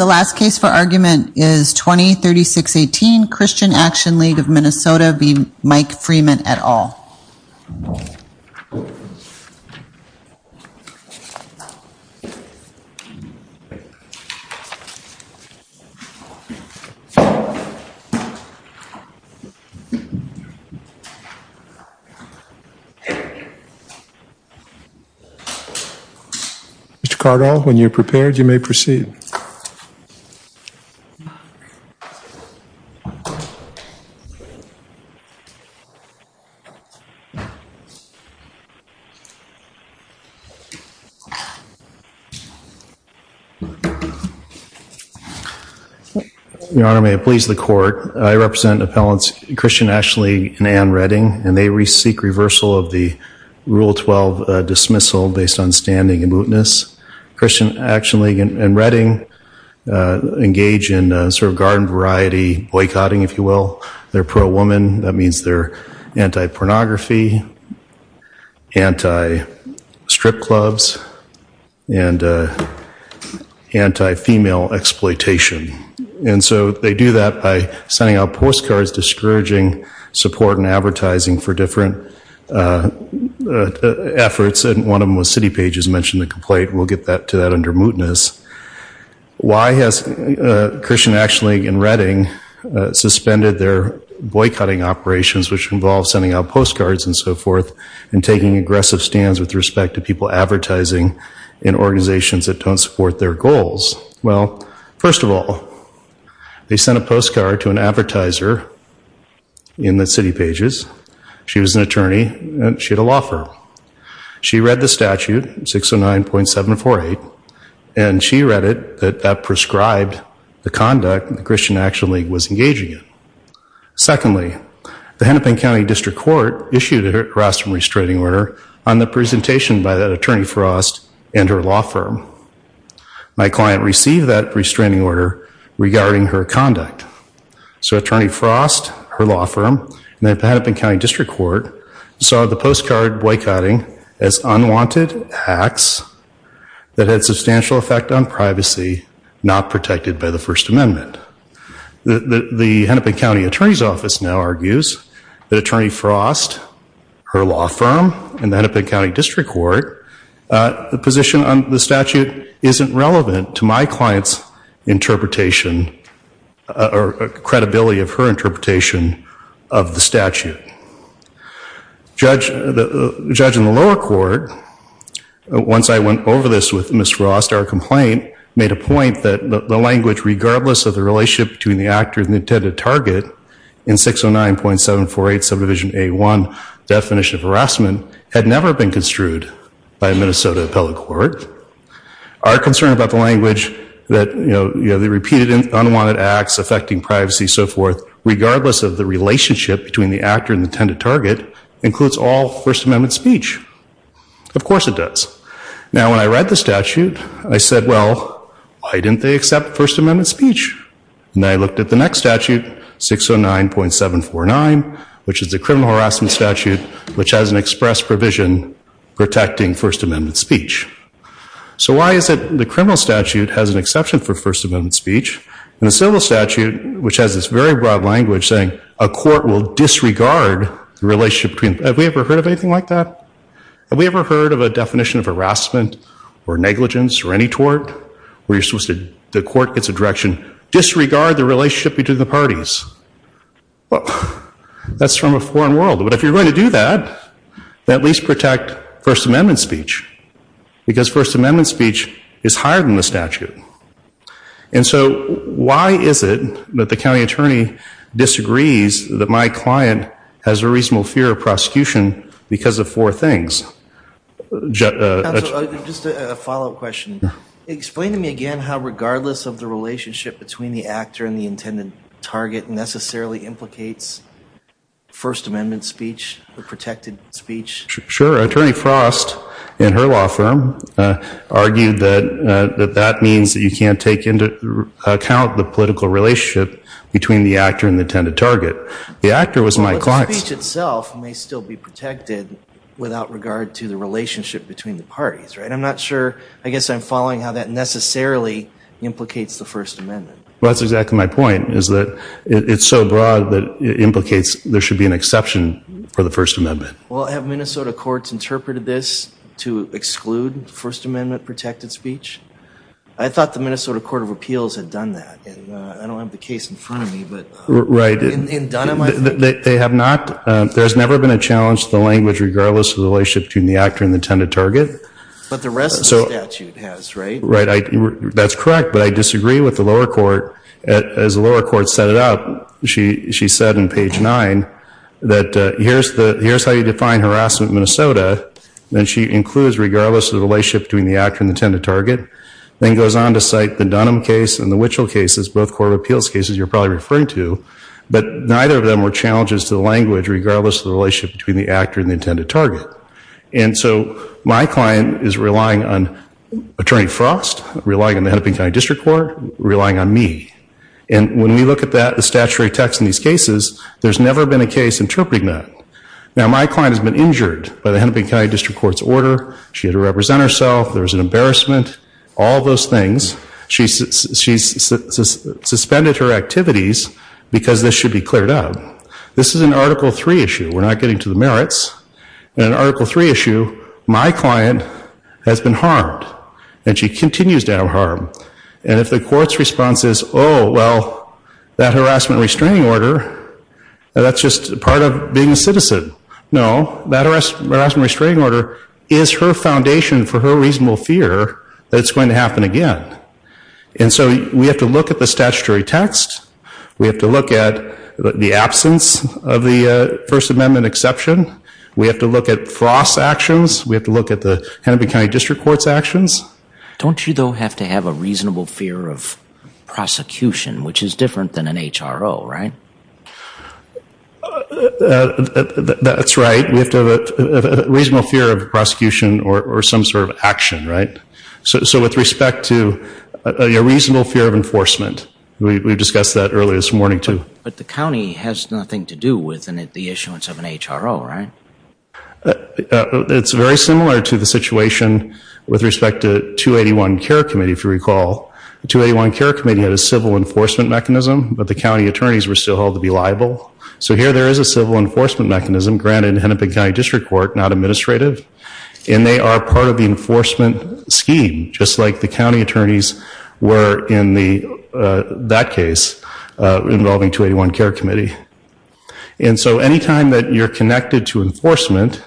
and the last case for argument is 20-3618 Christian Action League of MN v. Mike Freeman et al. the It's car or when you're may proceed. Your Honor, may it please the court. I represent appellants Christian Ashley and Ann Redding and they re-seek reversal of the Rule 12 dismissal based on standing and mootness. Christian Ashley and Ann Redding engage in sort of garden variety boycotting, if you will. They're pro-woman. That means they're anti-pornography, anti-strip clubs, and anti-female exploitation. And so they do that by sending out postcards discouraging support and advertising for different efforts. And one of them was City Pages mentioned the complaint. We'll get to that under mootness. Why has Christian Ashley and Ann Redding suspended their boycotting operations, which involve sending out postcards and so forth, and taking aggressive stands with respect to people advertising in organizations that don't support their goals? Well, first of all, they sent a postcard to an advertiser in the City Pages. She was an attorney and she had a law firm. She read the statute, 609.748, and she read it that that prescribed the conduct that Christian Ashley was engaging in. Secondly, the Hennepin County District Court issued a harassment restraining order on the presentation by that attorney Frost and her law firm. My client received that restraining order regarding her conduct. So Attorney Frost, her law firm, and the Hennepin County District Court saw the postcard boycotting as unwanted acts that had substantial effect on privacy not protected by the First Amendment. The Hennepin County Attorney's Office now argues that Attorney Frost, her law firm, and the Hennepin County District Court, the position on the statute isn't relevant to my client's interpretation or credibility of her interpretation of the statute. Judging the lower court, once I went over this with Ms. Frost, our complaint made a point that the language regardless of the relationship between the actor and the intended target in 609.748 subdivision A1, definition of harassment, had never been construed by a Minnesota appellate court. Our concern about the language that the repeated unwanted acts affecting privacy, so forth, regardless of the relationship between the actor and the intended target, includes all First Amendment speech. Of course it does. Now when I read the statute, I said, well, why didn't they accept First Amendment speech? And I looked at the next statute, 609.749, which is the criminal harassment statute, which has an express provision protecting First Amendment speech. So why is it the criminal statute has an exception for First Amendment speech, and the civil statute, which has this very broad language saying, a court will disregard the relationship between, have we ever heard of anything like that? Have we ever heard of a definition of harassment or negligence or any tort, where you're supposed to, the court gets a direction, disregard the relationship between the parties? Well, that's from a foreign world. But if you're going to do that, then at least protect First Amendment speech, because First Amendment speech is higher than the statute. And so why is it that the county attorney disagrees that my client has a reasonable fear of prosecution because of four things? Just a follow-up question. Explain to me again how regardless of the relationship between the actor and the intended target necessarily implicates First Amendment speech or protected speech. Sure. Attorney Frost, in her law firm, argued that that means that you can't take into account the political relationship between the actor and the intended target. The actor was my client. But the speech itself may still be protected without regard to the relationship between the parties, right? I'm not sure. I guess I'm following how that necessarily implicates the First Amendment. Well, that's exactly my point, is that it's so broad that it implicates there should be an exception for the First Amendment. Well, have Minnesota courts interpreted this to exclude First Amendment protected speech? I thought the Minnesota Court of Appeals had done that. And I don't have the case in front of me, but in Dunn, am I right? They have not. There has never been a challenge to the language regardless of the relationship between the actor and the intended target. But the rest of the statute has, right? That's correct, but I disagree with the lower court. As the lower court set it up, she said in page 9 that here's how you define harassment in Minnesota, and she includes regardless of the relationship between the actor and the intended target. Then goes on to cite the Dunham case and the Wichelt cases, both court of appeals cases you're probably referring to, but neither of them were challenges to the language regardless of the relationship between the actor and the intended target. And so my client is relying on Attorney Frost, relying on the Hennepin County District Court, relying on me. And when we look at that, the statutory text in these cases, there's never been a case interpreting that. Now, my client has been injured by the Hennepin County District Court's order. She had to represent herself. There was an embarrassment, all those things. She's suspended her activities because this should be cleared up. This is an Article III issue. We're not getting to the merits. In an Article III issue, my client has been harmed, and she continues to have harm. And if the court's response is, oh, well, that harassment restraining order, that's just part of being a citizen. No, that harassment restraining order is her foundation for her reasonable fear that it's going to happen again. And so we have to look at the statutory text. We have to look at the absence of the First Amendment exception. We have to look at Frost's actions. We have to look at the Hennepin County District Court's actions. Don't you, though, have to have a reasonable fear of prosecution, which is different than an HRO, right? That's right. We have to have a reasonable fear of prosecution or some sort of action, right? So with respect to a reasonable fear of enforcement, we discussed that earlier this morning, too. But the county has nothing to do with the issuance of an HRO, right? It's very similar to the situation with respect to 281 Care Committee, if you recall. The 281 Care Committee had a civil enforcement mechanism, but the county attorneys were still held to be liable. So here there is a civil enforcement mechanism granted in Hennepin County District Court, not administrative. And they are part of the enforcement scheme, just like the county attorneys were in that case involving 281 Care Committee. And so any time that you're connected to enforcement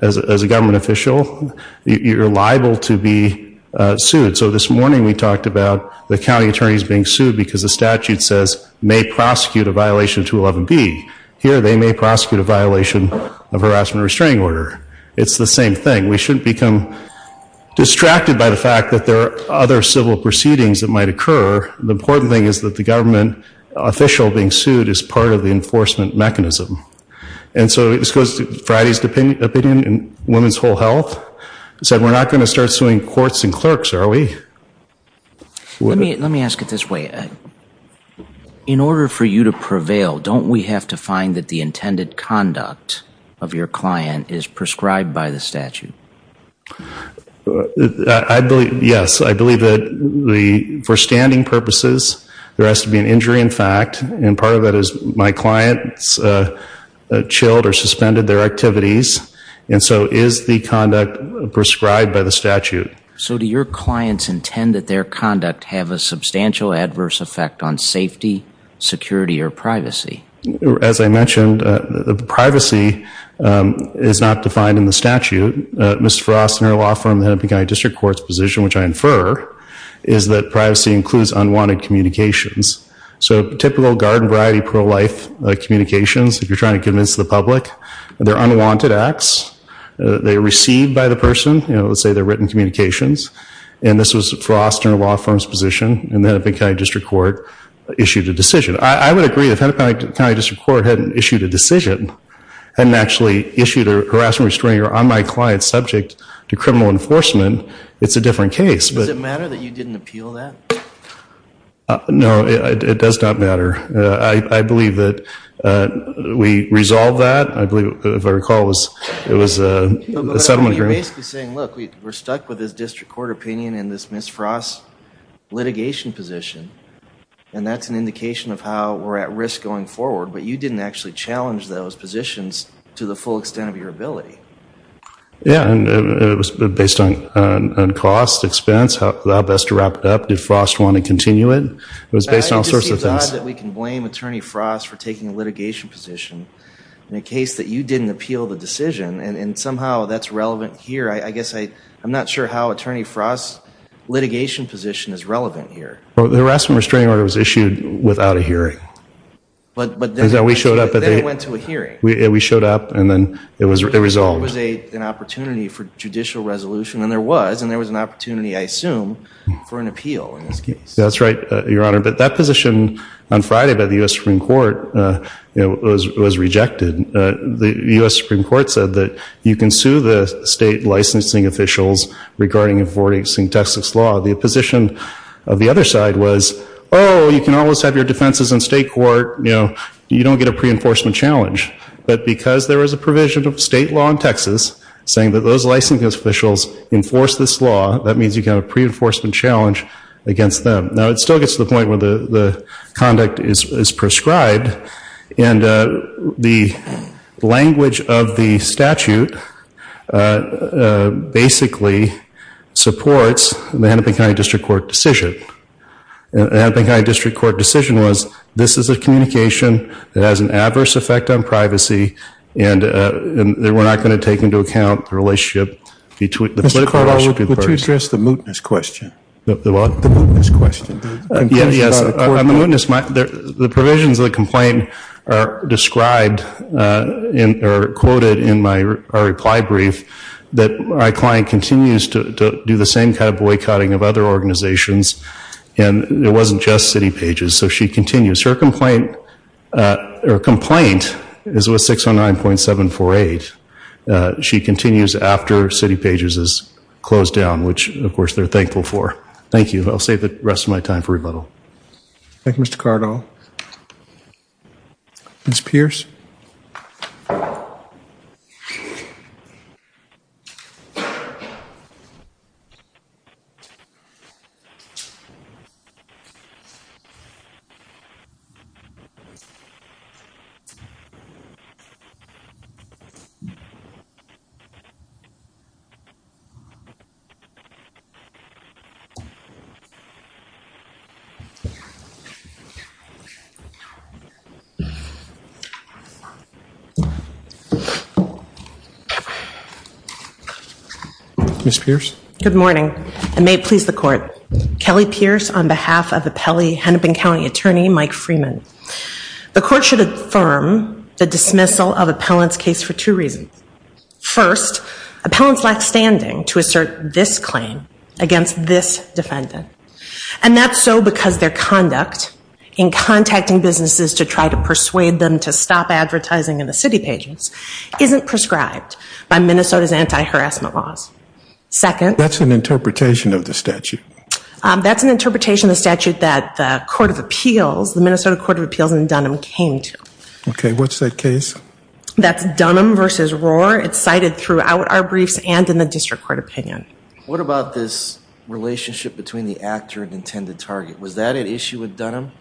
as a government official, you're liable to be sued. So this morning we talked about the county attorneys being sued because the statute says, may prosecute a violation of 211B. Here they may prosecute a violation of harassment restraining order. It's the same thing. We shouldn't become distracted by the fact that there are other civil proceedings that might occur. The important thing is that the government official being sued is part of the enforcement mechanism. And so this goes to Friday's opinion in Women's Whole Health. It said we're not going to start suing courts and clerks, are we? Let me ask it this way. In order for you to prevail, don't we have to find that the intended conduct of your client is prescribed by the statute? Yes. I believe that for standing purposes, there has to be an injury in fact. And part of that is my client chilled or suspended their activities. So do your clients intend that their conduct have a substantial adverse effect on safety, security, or privacy? As I mentioned, privacy is not defined in the statute. Ms. Frost and her law firm, the Hennepin County District Court's position, which I infer, is that privacy includes unwanted communications. So typical garden variety pro-life communications, if you're trying to convince the public, they're unwanted acts. They are received by the person. Let's say they're written communications. And this was Frost and her law firm's position. And the Hennepin County District Court issued a decision. I would agree, if the Hennepin County District Court hadn't issued a decision, hadn't actually issued a harassment restraining order on my client subject to criminal enforcement, it's a different case. Does it matter that you didn't appeal that? No, it does not matter. I believe that we resolved that. I believe, if I recall, it was a settlement agreement. But you're basically saying, look, we're stuck with this district court opinion and this Ms. Frost litigation position. And that's an indication of how we're at risk going forward. But you didn't actually challenge those positions to the full extent of your ability. Yeah, and it was based on cost, expense, how best to wrap it up. Did Frost want to continue it? It was based on all sorts of things. It just seems odd that we can blame Attorney Frost for taking a litigation position in a case that you didn't appeal the decision. And somehow that's relevant here. I guess I'm not sure how Attorney Frost's litigation position is relevant here. The harassment restraining order was issued without a hearing. But then it went to a hearing. We showed up, and then it was resolved. There was an opportunity for judicial resolution. And there was, and there was an opportunity, I assume, for an appeal in this case. That's right, Your Honor. But that position on Friday by the U.S. Supreme Court was rejected. The U.S. Supreme Court said that you can sue the state licensing officials regarding enforcing Texas law. The position of the other side was, oh, you can always have your defenses in state court. You don't get a pre-enforcement challenge. But because there was a provision of state law in Texas saying that those licensing officials enforce this law, that means you can have a pre-enforcement challenge against them. Now, it still gets to the point where the conduct is prescribed. And the language of the statute basically supports the Hennepin County District Court decision. The Hennepin County District Court decision was, this is a communication that has an adverse effect on privacy, and we're not going to take into account the relationship between the political parties. Mr. Carlisle, would you address the mootness question? The what? The mootness question. Yes. On the mootness, the provisions of the complaint are described or quoted in my reply brief that my client continues to do the same kind of boycotting of other organizations. And it wasn't just City Pages. So she continues. Her complaint is with 609.748. She continues after City Pages is closed down, which, of course, they're thankful for. Thank you. I'll save the rest of my time for rebuttal. Thank you, Mr. Cardinal. Ms. Pierce? Good morning, and may it please the court. Kelly Pierce on behalf of appellee Hennepin County attorney Mike Freeman. The court should affirm the dismissal of appellant's case for two reasons. First, appellants lack standing to assert this claim against this defendant. And that's so because their conduct in contacting businesses to try to persuade them to stop advertising in the City Pages isn't prescribed by Minnesota's anti-harassment laws. Second. That's an interpretation of the statute. That's an interpretation of the statute that the Minnesota Court of Appeals in Dunham came to. Okay. What's that case? That's Dunham v. Rohr. It's cited throughout our briefs and in the district court opinion. What about this relationship between the actor and intended target? Was that an issue with Dunham?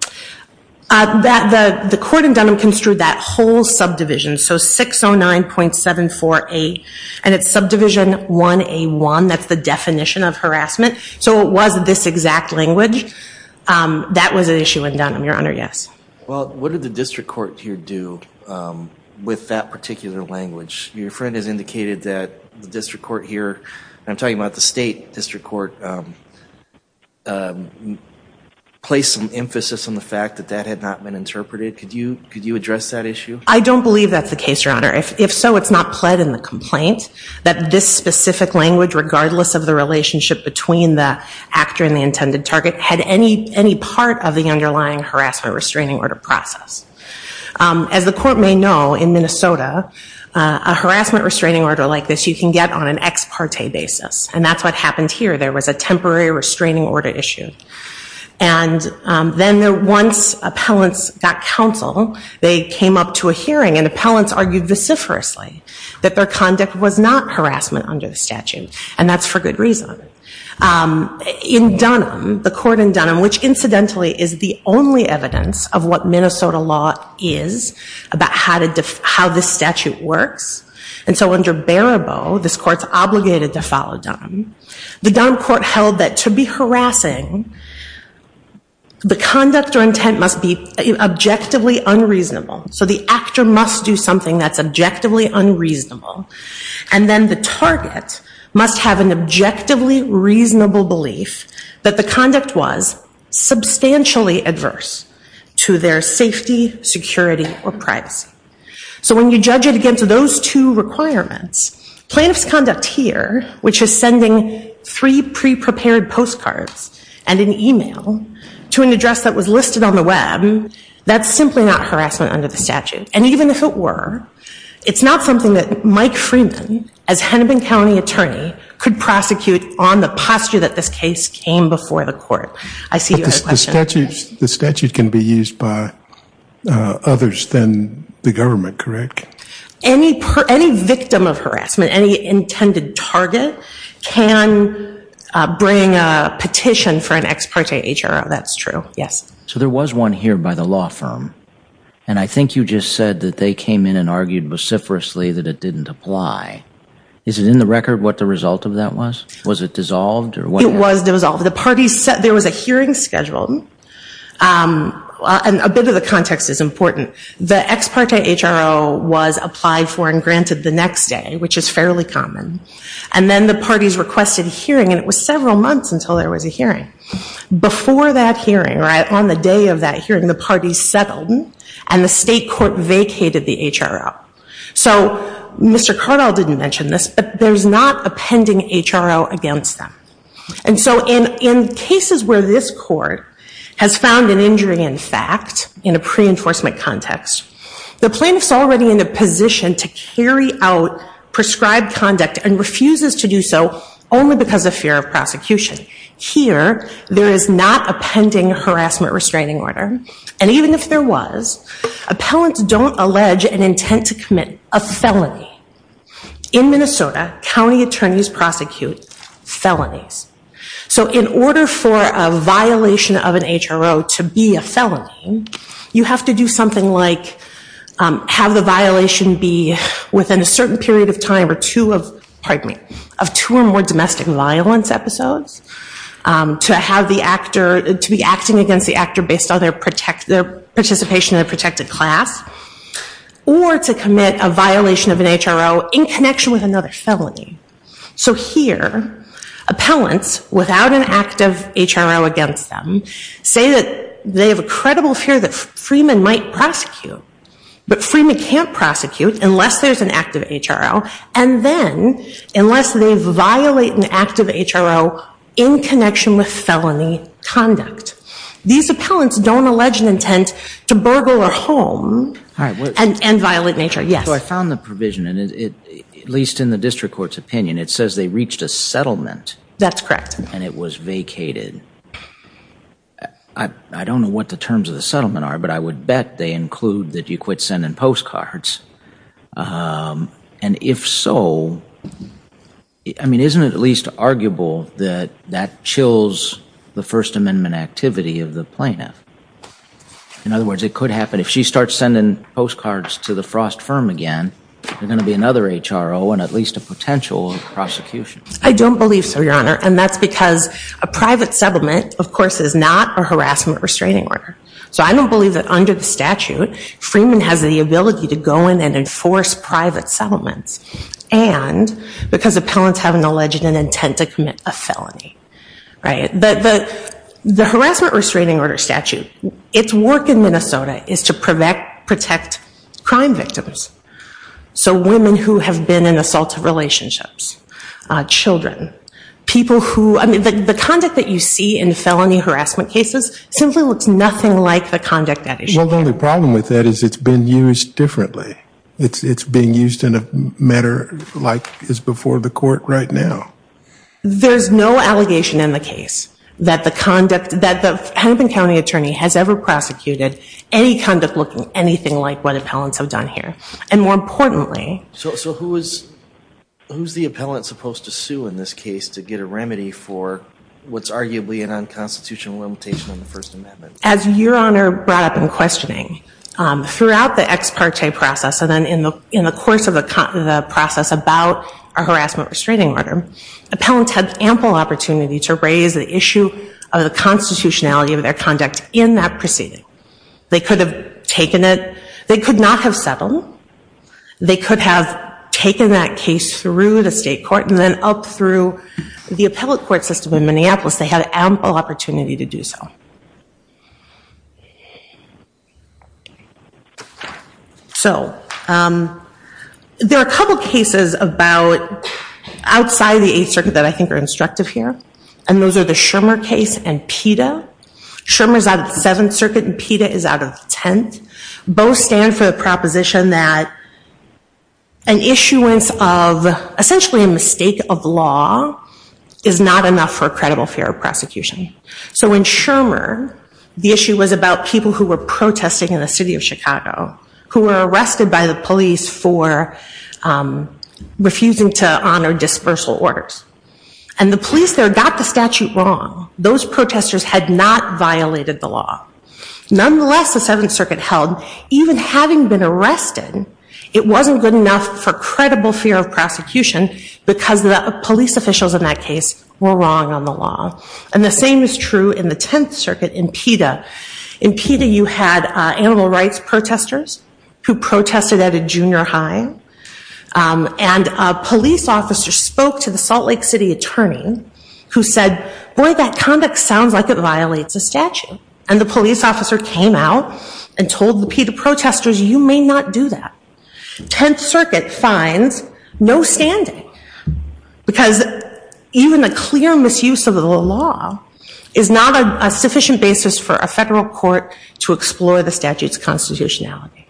The court in Dunham construed that whole subdivision. So 609.748, and it's subdivision 1A1. That's the definition of harassment. So it was this exact language. That was an issue in Dunham, Your Honor, yes. Well, what did the district court here do with that particular language? Your friend has indicated that the district court here, and I'm talking about the state district court, placed some emphasis on the fact that that had not been interpreted. Could you address that issue? I don't believe that's the case, Your Honor. If so, it's not pled in the complaint that this specific language, regardless of the relationship between the actor and the intended target, had any part of the underlying harassment restraining order process. As the court may know, in Minnesota, a harassment restraining order like this, you can get on an ex parte basis, and that's what happened here. There was a temporary restraining order issue. And then once appellants got counsel, they came up to a hearing, and appellants argued vociferously that their conduct was not harassment under the statute, and that's for good reason. In Dunham, the court in Dunham, which incidentally is the only evidence of what Minnesota law is about how this statute works, and so under Barabow, this court's obligated to follow Dunham, the Dunham court held that to be harassing, the conduct or intent must be objectively unreasonable. So the actor must do something that's objectively unreasonable, and then the target must have an objectively reasonable belief that the conduct was substantially adverse to their safety, security, or privacy. So when you judge it against those two requirements, plaintiff's conduct here, which is sending three pre-prepared postcards and an email to an address that was listed on the web, that's simply not harassment under the statute. And even if it were, it's not something that Mike Freeman, as Hennepin County attorney, could prosecute on the posture that this case came before the court. I see you had a question. The statute can be used by others than the government, correct? Any victim of harassment, any intended target, can bring a petition for an ex parte HRO, that's true, yes. So there was one here by the law firm, and I think you just said that they came in and argued vociferously that it didn't apply. Is it in the record what the result of that was? Was it dissolved? It was dissolved. There was a hearing scheduled, and a bit of the context is important. The ex parte HRO was applied for and granted the next day, which is fairly common. And then the parties requested a hearing, and it was several months until there was a hearing. Before that hearing, on the day of that hearing, the parties settled, and the state court vacated the HRO. So Mr. Cardall didn't mention this, but there's not a pending HRO against them. And so in cases where this court has found an injury in fact, in a pre-enforcement context, the plaintiff's already in a position to carry out prescribed conduct and refuses to do so only because of fear of prosecution. Here, there is not a pending harassment restraining order, and even if there was, appellants don't allege an intent to commit a felony. In Minnesota, county attorneys prosecute felonies. So in order for a violation of an HRO to be a felony, you have to do something like have the violation be within a certain period of time of two or more domestic violence episodes, to be acting against the actor based on their participation in a protected class, or to commit a violation of an HRO in connection with another felony. So here, appellants, without an active HRO against them, say that they have a credible fear that Freeman might prosecute, but Freeman can't prosecute unless there's an active HRO, and then unless they violate an active HRO in connection with felony conduct. These appellants don't allege an intent to burgle a home and violent nature. Yes. So I found the provision, at least in the district court's opinion, it says they reached a settlement. That's correct. And it was vacated. I don't know what the terms of the settlement are, but I would bet they include that you quit sending postcards. And if so, I mean, isn't it at least arguable that that chills the First Amendment activity of the plaintiff? In other words, it could happen. If she starts sending postcards to the Frost firm again, there's going to be another HRO and at least a potential prosecution. I don't believe so, Your Honor, and that's because a private settlement, of course, is not a harassment restraining order. So I don't believe that under the statute, Freeman has the ability to go in and enforce private settlements. And because appellants haven't alleged an intent to commit a felony. The harassment restraining order statute, its work in Minnesota is to protect crime victims. So women who have been in assaultive relationships, children, people who, I mean, the conduct that you see in felony harassment cases simply looks nothing like the conduct that it should have. Well, the only problem with that is it's been used differently. It's being used in a manner like is before the court right now. There's no allegation in the case that the conduct, that the Hennepin County attorney has ever prosecuted any conduct looking anything like what appellants have done here. And more importantly. So who is the appellant supposed to sue in this case to get a remedy for what's arguably an unconstitutional limitation on the First Amendment? As Your Honor brought up in questioning, throughout the ex parte process and then in the course of the process about a harassment restraining order, appellants had ample opportunity to raise the issue of the constitutionality of their conduct in that proceeding. They could have taken it. They could not have settled. They could have taken that case through the state court and then up through the appellate court system in Minneapolis. They had ample opportunity to do so. So there are a couple of cases about outside the Eighth Circuit that I think are instructive here. And those are the Schirmer case and PETA. Schirmer is out of the Seventh Circuit and PETA is out of the Tenth. Both stand for the proposition that an issuance of essentially a mistake of law is not enough for a credible fear of prosecution. So in Schirmer, the issue was about people who were protesting in the city of Chicago who were arrested by the police for refusing to honor dispersal orders. And the police there got the statute wrong. Those protesters had not violated the law. Nonetheless, the Seventh Circuit held, even having been arrested, it wasn't good enough for credible fear of prosecution because the police officials in that case were wrong on the law. And the same is true in the Tenth Circuit in PETA. In PETA, you had animal rights protesters who protested at a junior high. And a police officer spoke to the Salt Lake City attorney who said, boy, that conduct sounds like it violates a statute. And the police officer came out and told the PETA protesters, you may not do that. Tenth Circuit finds no standing because even a clear misuse of the law is not a sufficient basis for a federal court to explore the statute's constitutionality.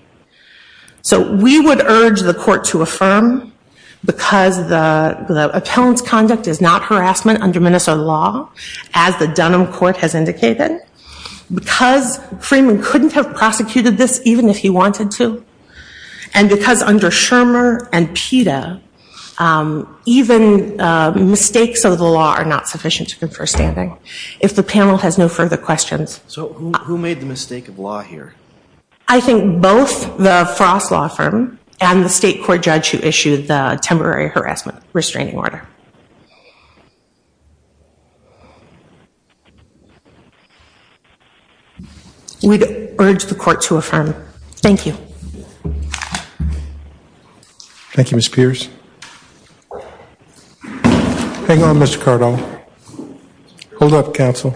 So we would urge the court to affirm, because the appellant's conduct is not harassment under Minnesota law, as the Dunham Court has indicated, because Freeman couldn't have prosecuted this even if he wanted to. And because under Shermer and PETA, even mistakes of the law are not sufficient to confer standing. If the panel has no further questions. So who made the mistake of law here? I think both the Frost Law Firm and the state court judge who issued the temporary harassment restraining order. We'd urge the court to affirm. Thank you. Thank you, Ms. Pierce. Hang on, Mr. Cardone. Hold up, counsel.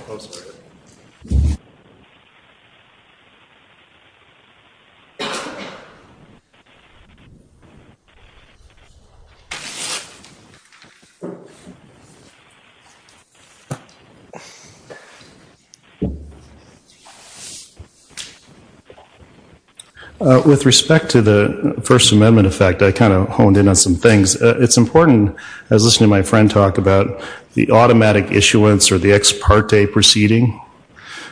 With respect to the First Amendment effect, I kind of honed in on some things. It's important, as I was listening to my friend talk about, the automatic issuance or the ex parte proceeding.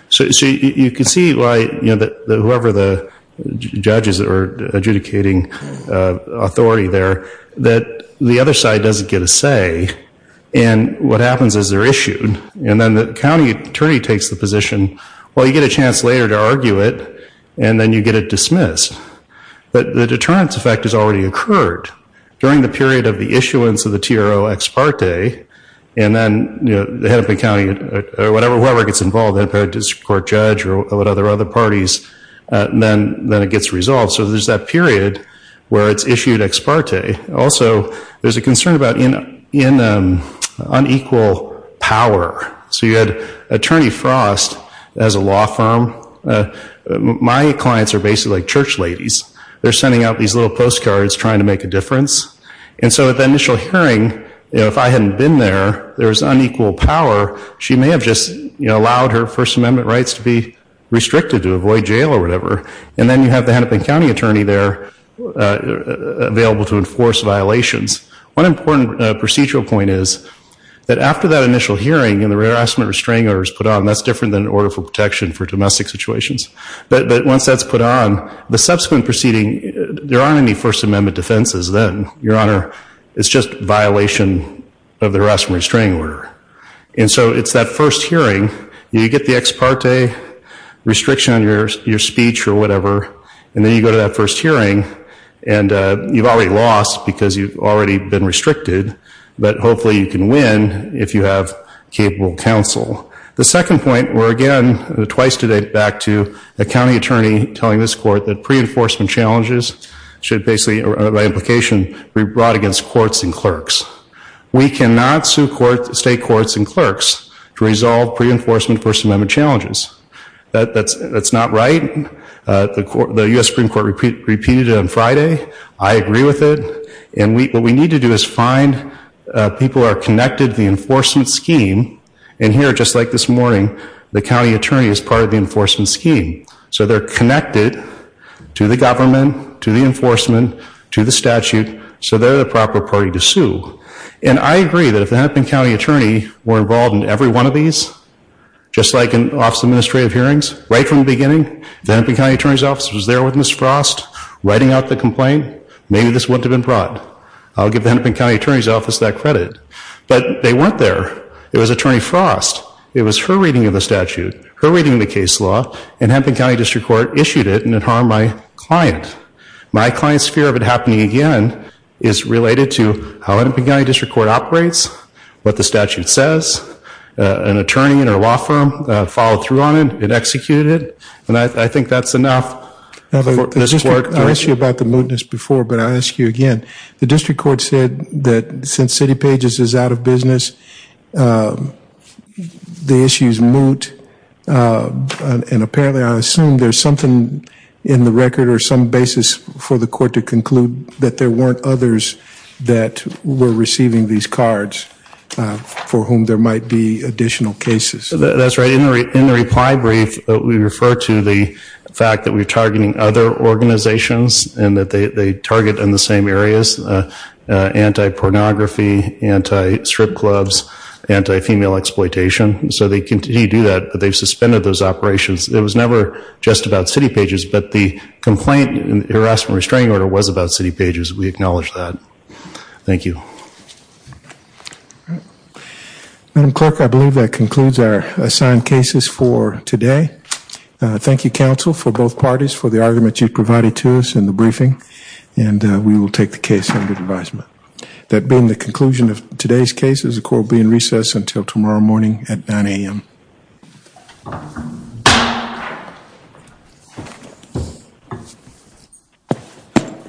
So you can see why whoever the judges are adjudicating authority there, that the other side doesn't get a say, and what happens is they're issued. And then the county attorney takes the position, well, you get a chance later to argue it, and then you get it dismissed. But the deterrence effect has already occurred. During the period of the issuance of the TRO ex parte, and then the head of the county or whoever gets involved, whether it's a court judge or whatever other parties, then it gets resolved. So there's that period where it's issued ex parte. Also, there's a concern about unequal power. So you had Attorney Frost as a law firm. My clients are basically like church ladies. They're sending out these little postcards trying to make a difference. And so at the initial hearing, if I hadn't been there, there was unequal power. She may have just allowed her First Amendment rights to be restricted, to avoid jail or whatever. And then you have the head of the county attorney there, available to enforce violations. One important procedural point is that after that initial hearing, the harassment restraining order is put on. That's different than order for protection for domestic situations. But once that's put on, the subsequent proceeding, there aren't any First Amendment defenses then, Your Honor. It's just violation of the harassment restraining order. And so it's that first hearing. You get the ex parte restriction on your speech or whatever, and then you go to that first hearing, and you've already lost because you've already been restricted. But hopefully you can win if you have capable counsel. The second point, we're again twice today back to the county attorney telling this court that pre-enforcement challenges should basically, by implication, be brought against courts and clerks. We cannot sue state courts and clerks to resolve pre-enforcement First Amendment challenges. That's not right. The U.S. Supreme Court repeated it on Friday. I agree with it. And what we need to do is find people who are connected to the enforcement scheme. And here, just like this morning, the county attorney is part of the enforcement scheme. So they're connected to the government, to the enforcement, to the statute. So they're the proper party to sue. And I agree that if the Hennepin County Attorney were involved in every one of these, just like in Office of Administrative Hearings, right from the beginning, the Hennepin County Attorney's Office was there with Ms. Frost, writing out the complaint, maybe this wouldn't have been brought. I'll give the Hennepin County Attorney's Office that credit. But they weren't there. It was Attorney Frost. It was her reading of the statute, her reading of the case law, and Hennepin County District Court issued it and it harmed my client. My client's fear of it happening again is related to how Hennepin County District Court operates, what the statute says. An attorney in our law firm followed through on it, it executed it, and I think that's enough for this court. I asked you about the mootness before, but I'll ask you again. The district court said that since CityPages is out of business, the issue is moot. And apparently, I assume, there's something in the record or some basis for the court to conclude that there weren't others that were receiving these cards for whom there might be additional cases. That's right. In the reply brief, we refer to the fact that we're targeting other organizations and that they target in the same areas, anti-pornography, anti-strip clubs, anti-female exploitation. So they continue to do that, but they've suspended those operations. It was never just about CityPages, but the complaint and harassment restraining order was about CityPages. We acknowledge that. Thank you. Madam Clerk, I believe that concludes our assigned cases for today. Thank you, Counsel, for both parties for the argument you provided to us in the briefing. And we will take the case under advisement. That being the conclusion of today's cases, the court will be in recess until tomorrow morning at 9 a.m.